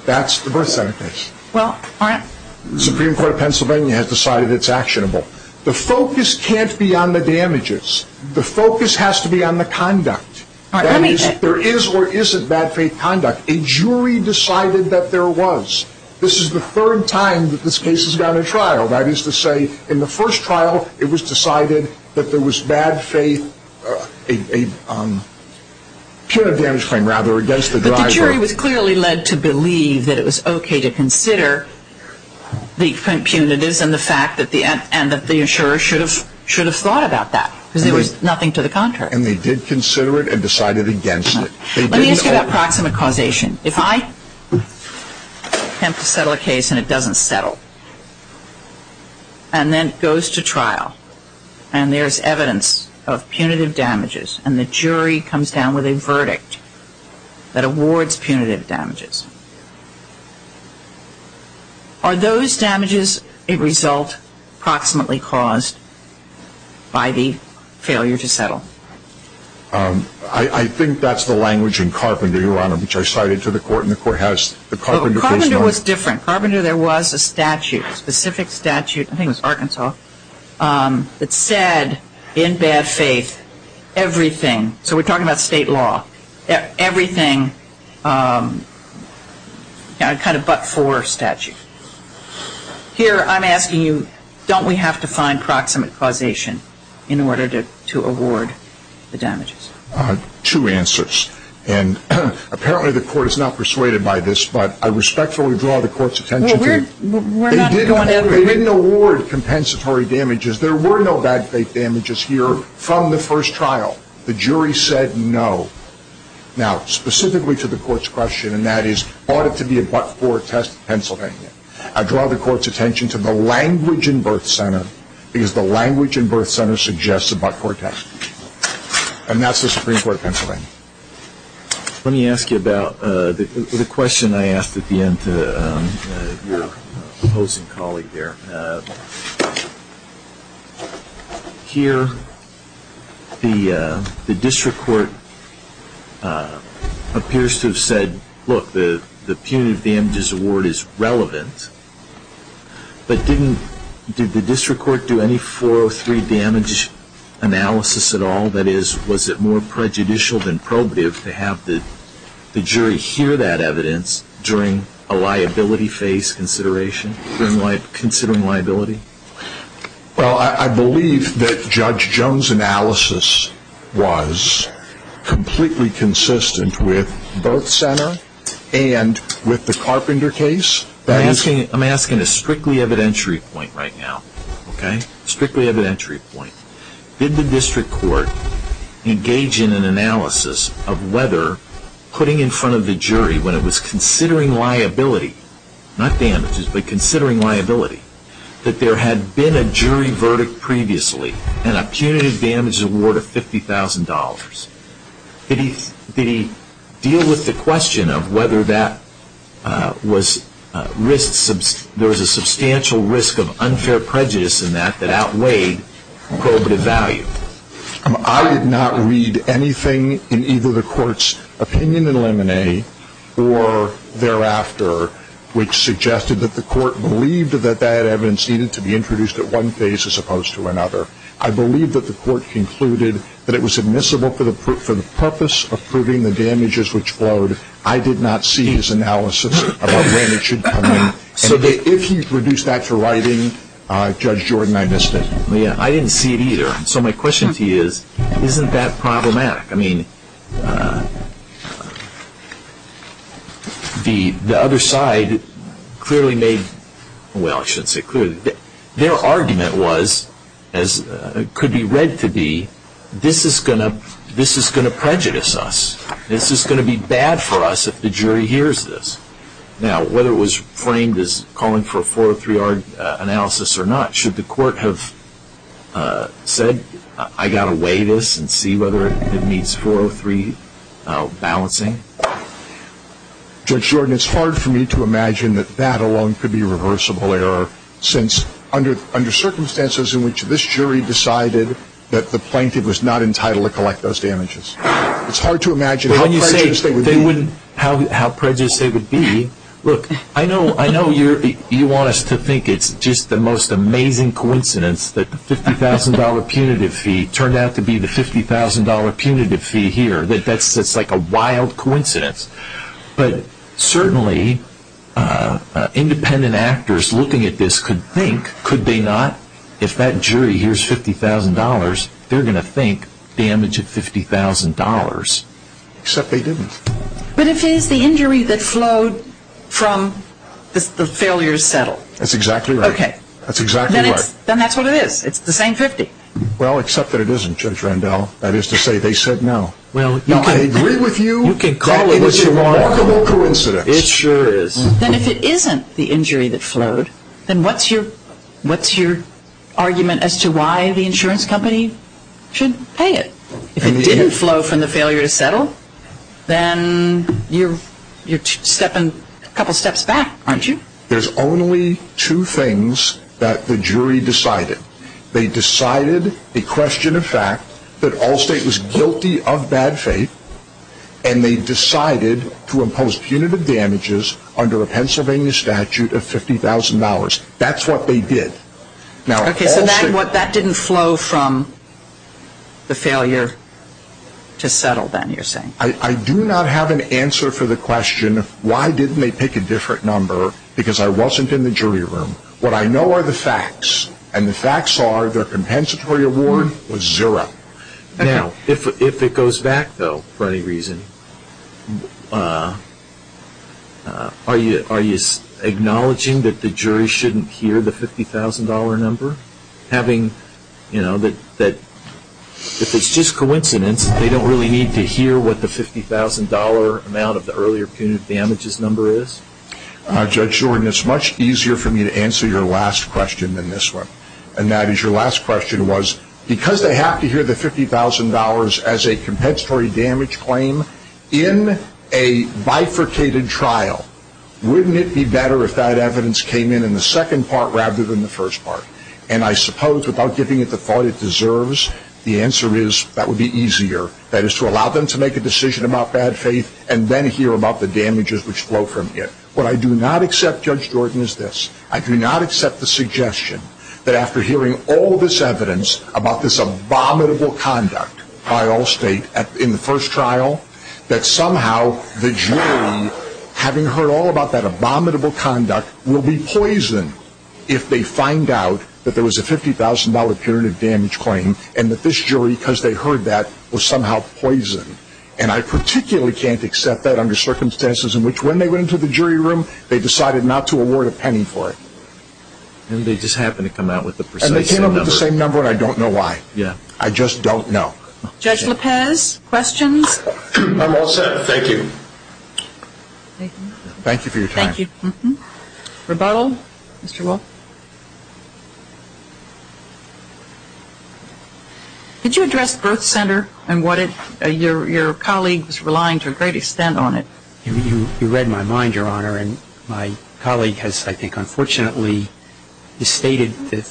That's the birth center case. Well, all right. The Supreme Court of Pennsylvania has decided it's actionable. The focus can't be on the damages. The focus has to be on the conduct. There is or isn't bad faith conduct. A jury decided that there was. This is the third time that this case has gone to trial. That is to say, in the first trial, it was decided that there was bad faith, a punitive damage claim, rather, against the driver. But the jury was clearly led to believe that it was okay to consider the punitives and the fact that the insurer should have thought about that because there was nothing to the contrary. And they did consider it and decided against it. Let me ask you about proximate causation. If I attempt to settle a case and it doesn't settle and then it goes to trial and there's evidence of punitive damages and the jury comes down with a verdict that awards punitive damages, are those damages a result proximately caused by the failure to settle? I think that's the language in Carpenter, Your Honor, which I cited to the court. And the court has the Carpenter case. Carpenter was different. Carpenter, there was a statute, a specific statute, I think it was Arkansas, that said in bad faith everything. So we're talking about state law. Everything kind of but for statute. Here I'm asking you, don't we have to find proximate causation in order to award the damages? Two answers. And apparently the court is not persuaded by this, but I respectfully draw the court's attention to it. They didn't award compensatory damages. There were no bad faith damages here from the first trial. The jury said no. Now, specifically to the court's question, and that is, ought it to be a but-for test in Pennsylvania? I draw the court's attention to the language in Birth Center because the language in Birth Center suggests a but-for test. And that's the Supreme Court of Pennsylvania. Let me ask you about the question I asked at the end to your opposing colleague there. And here the district court appears to have said, look, the punitive damages award is relevant. But didn't the district court do any 403 damage analysis at all? That is, was it more prejudicial than probative to have the jury hear that evidence during a liability phase consideration? Considering liability? Well, I believe that Judge Jones' analysis was completely consistent with Birth Center and with the Carpenter case. I'm asking a strictly evidentiary point right now, okay? Strictly evidentiary point. Did the district court engage in an analysis of whether putting in front of the jury, when it was considering liability, not damages, but considering liability, that there had been a jury verdict previously and a punitive damages award of $50,000? Did he deal with the question of whether there was a substantial risk of unfair prejudice in that that outweighed probative value? I did not read anything in either the court's opinion in Lemonet or thereafter, which suggested that the court believed that that evidence needed to be introduced at one phase as opposed to another. I believe that the court concluded that it was admissible for the purpose of proving the damages which flowed. I did not see his analysis of when it should come in. If he reduced that to writing, Judge Jordan, I missed it. I didn't see it either. So my question to you is, isn't that problematic? I mean, the other side clearly made, well, I shouldn't say clearly. Their argument was, as it could be read to be, this is going to prejudice us. This is going to be bad for us if the jury hears this. Now, whether it was framed as calling for a 403-R analysis or not, should the court have said, I've got to weigh this and see whether it meets 403 balancing? Judge Jordan, it's hard for me to imagine that that alone could be reversible error, since under circumstances in which this jury decided that the plaintiff was not entitled to collect those damages. It's hard to imagine how prejudiced they would be. How prejudiced they would be. Look, I know you want us to think it's just the most amazing coincidence that the $50,000 punitive fee turned out to be the $50,000 punitive fee here. That's like a wild coincidence. But certainly, independent actors looking at this could think, could they not, if that jury hears $50,000, they're going to think damage at $50,000. Except they didn't. But if it is the injury that flowed from the failures settled. That's exactly right. Okay. That's exactly right. Then that's what it is. It's the same 50. Well, except that it isn't, Judge Randall. That is to say, they said no. Well, you can agree with you. You can call it what you want. That is a remarkable coincidence. It sure is. Then if it isn't the injury that flowed, then what's your argument as to why the insurance company should pay it? If it didn't flow from the failure to settle, then you're a couple steps back, aren't you? There's only two things that the jury decided. They decided a question of fact that Allstate was guilty of bad faith, and they decided to impose punitive damages under a Pennsylvania statute of $50,000. That's what they did. Okay. So that didn't flow from the failure to settle, then, you're saying? I do not have an answer for the question, why didn't they pick a different number, because I wasn't in the jury room. What I know are the facts, and the facts are their compensatory award was zero. Now, if it goes back, though, for any reason, are you acknowledging that the jury shouldn't hear the $50,000 number? If it's just coincidence, they don't really need to hear what the $50,000 amount of the earlier punitive damages number is? Judge Jordan, it's much easier for me to answer your last question than this one, and that is your last question was, because they have to hear the $50,000 as a compensatory damage claim in a bifurcated trial, wouldn't it be better if that evidence came in in the second part rather than the first part? And I suppose without giving it the thought it deserves, the answer is that would be easier, that is to allow them to make a decision about bad faith and then hear about the damages which flow from it. What I do not accept, Judge Jordan, is this. I do not accept the suggestion that after hearing all this evidence about this abominable conduct by Allstate in the first trial, that somehow the jury, having heard all about that abominable conduct, will be poisoned if they find out that there was a $50,000 punitive damage claim, and that this jury, because they heard that, was somehow poisoned. And I particularly can't accept that under circumstances in which when they went into the jury room, they decided not to award a penny for it. And they just happened to come out with the precise same number. And they came out with the same number and I don't know why. Yeah. I just don't know. Judge Lopez, questions? I'm all set, thank you. Thank you for your time. Thank you. Rebuttal, Mr. Wolf? Could you address birth center and what your colleague is relying to a great extent on it? You read my mind, Your Honor, and my colleague has, I think, unfortunately, stated the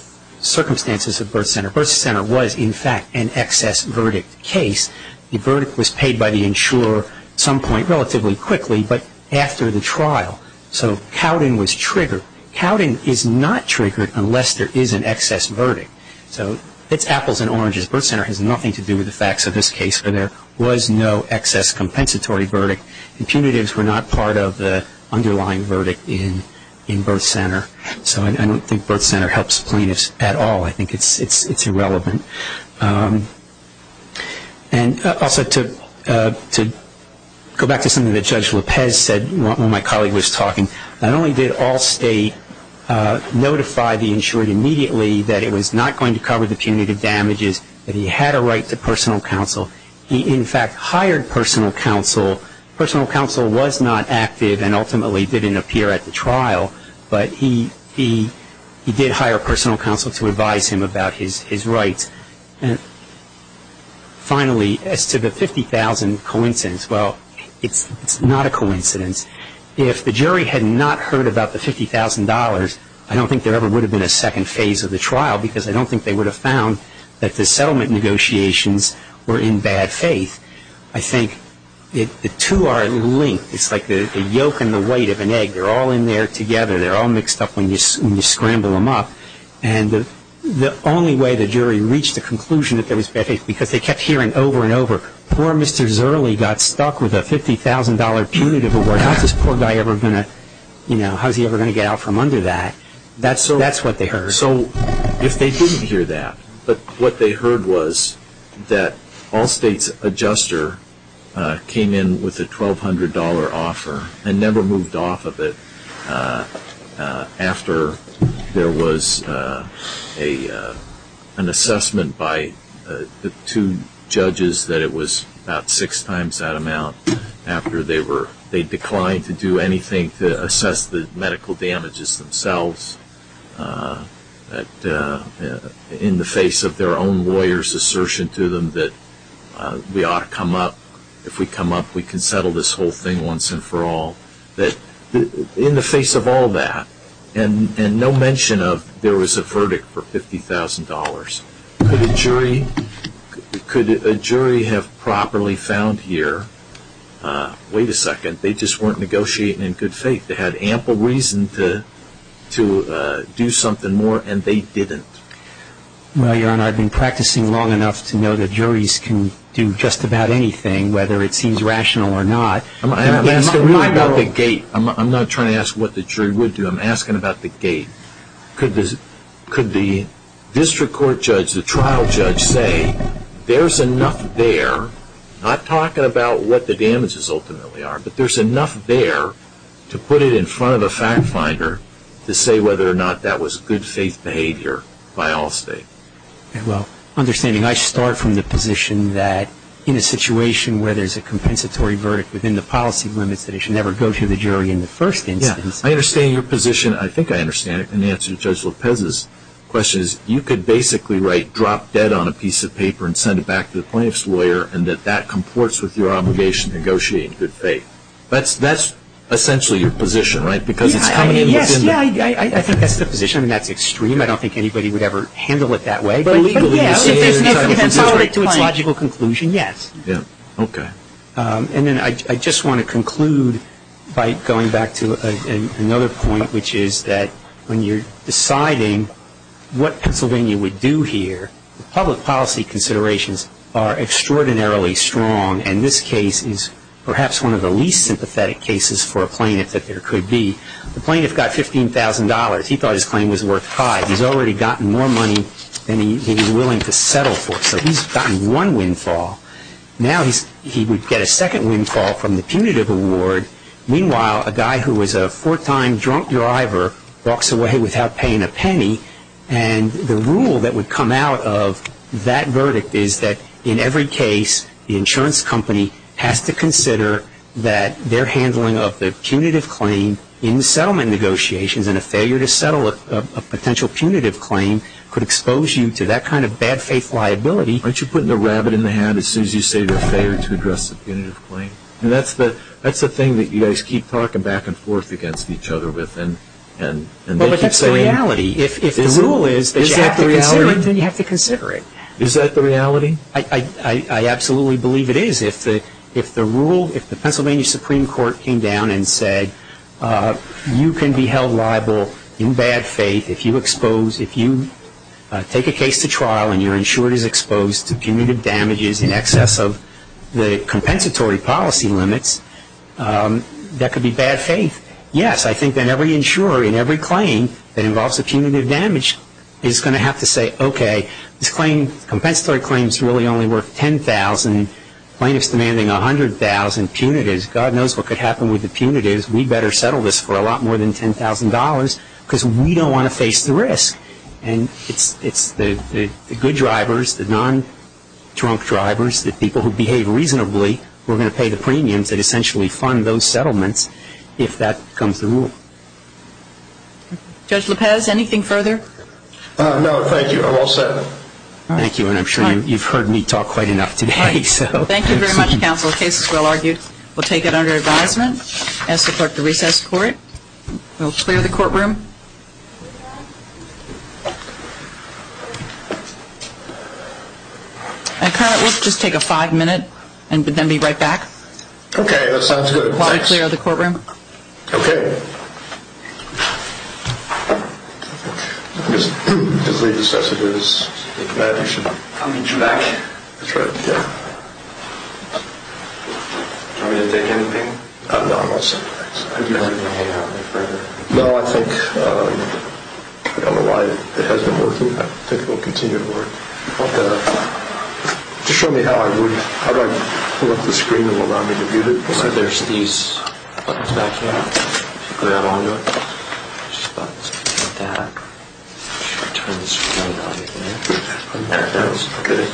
circumstances of birth center. Birth center was, in fact, an excess verdict case. The verdict was paid by the insurer at some point relatively quickly, but after the trial. So Cowden was triggered. So Cowden is not triggered unless there is an excess verdict. So it's apples and oranges. Birth center has nothing to do with the facts of this case, but there was no excess compensatory verdict. And punitives were not part of the underlying verdict in birth center. So I don't think birth center helps plaintiffs at all. I think it's irrelevant. And also to go back to something that Judge Lopez said when my colleague was talking, not only did Allstate notify the insured immediately that it was not going to cover the punitive damages, but he had a right to personal counsel. He, in fact, hired personal counsel. Personal counsel was not active and ultimately didn't appear at the trial, but he did hire personal counsel to advise him about his rights. And finally, as to the 50,000 coincidence, well, it's not a coincidence. If the jury had not heard about the $50,000, I don't think there ever would have been a second phase of the trial because I don't think they would have found that the settlement negotiations were in bad faith. I think the two are linked. It's like the yolk and the white of an egg. They're all in there together. They're all mixed up when you scramble them up. And the only way the jury reached a conclusion that there was bad faith, because they kept hearing over and over, poor Mr. Zerley got stuck with a $50,000 punitive award. How is this poor guy ever going to get out from under that? That's what they heard. So if they didn't hear that, but what they heard was that Allstate's adjuster came in with a $1,200 offer and never moved off of it after there was an assessment by the two judges that it was about six times that amount after they declined to do anything to assess the medical damages themselves. In the face of their own lawyer's assertion to them that we ought to come up, if we come up we can settle this whole thing once and for all, that in the face of all that, and no mention of there was a verdict for $50,000, could a jury have properly found here, wait a second, they just weren't negotiating in good faith. They had ample reason to do something more and they didn't. Well, Your Honor, I've been practicing long enough to know that juries can do just about anything, whether it seems rational or not. I'm not trying to ask what the jury would do. I'm asking about the gate. Could the district court judge, the trial judge, say there's enough there, not talking about what the damages ultimately are, but there's enough there to put it in front of a fact finder to say whether or not that was good faith behavior by all states. Well, understanding I start from the position that in a situation where there's a compensatory verdict within the policy limits, that it should never go to the jury in the first instance. Yeah, I understand your position. I think I understand it in answer to Judge Lopez's question. You could basically write drop dead on a piece of paper and send it back to the plaintiff's lawyer and that that comports with your obligation to negotiate in good faith. That's essentially your position, right, because it's coming in within the policy limits. Yeah, I think that's the position. I mean, that's extreme. I don't think anybody would ever handle it that way. But legally it is. But, yeah. If it goes right to its logical conclusion, yes. Yeah. Okay. And then I just want to conclude by going back to another point, which is that when you're deciding what Pennsylvania would do here, the public policy considerations are extraordinarily strong, and this case is perhaps one of the least sympathetic cases for a plaintiff that there could be. The plaintiff got $15,000. He thought his claim was worth five. He's already gotten more money than he's willing to settle for. So he's gotten one windfall. Now he would get a second windfall from the punitive award. Meanwhile, a guy who was a four-time drunk driver walks away without paying a penny, and the rule that would come out of that verdict is that in every case the insurance company has to consider that their handling of the punitive claim in settlement negotiations and a failure to settle a potential punitive claim could expose you to that kind of bad faith liability. Aren't you putting the rabbit in the hat as soon as you say you're a failure to address a punitive claim? That's the thing that you guys keep talking back and forth against each other with. Well, but that's the reality. If the rule is that you have to consider it, then you have to consider it. Is that the reality? I absolutely believe it is. If the Pennsylvania Supreme Court came down and said, you can be held liable in bad faith if you take a case to trial and you're insured as exposed to punitive damages in excess of the compensatory policy limits, that could be bad faith. Yes, I think that every insurer in every claim that involves a punitive damage is going to have to say, okay, this claim, compensatory claims really only worth $10,000. Plaintiff's demanding $100,000 punitives. God knows what could happen with the punitives. We'd better settle this for a lot more than $10,000 because we don't want to face the risk. And it's the good drivers, the non-drunk drivers, the people who behave reasonably, who are going to pay the premiums that essentially fund those settlements if that becomes the rule. Judge Lopez, anything further? No, thank you. I'm all set. Thank you, and I'm sure you've heard me talk quite enough today. Thank you very much, counsel. The case is well argued. We'll take it under advisement. I ask the clerk to recess the court. We'll clear the courtroom. And, clerk, we'll just take a five-minute and then be right back. Okay, that sounds good. While we clear the courtroom. Okay. I guess his latest message is that you should come back. That's right, yeah. Do you want me to take anything? No, I'm all set. I'd be happy to hang out with you further. No, I think, I don't know why it hasn't been working. I think it will continue to work. Okay. Just show me how I would. How do I pull up the screen and allow me to view it? There's these buttons back here. Do I grab onto it? There's buttons like that. Should we turn the screen on? Okay.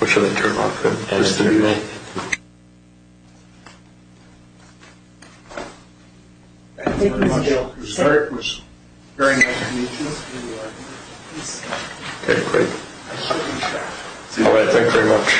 What should I turn on? Editing mode. Thank you very much. The clerk was very nice to meet you. Okay, great. All right, thanks very much.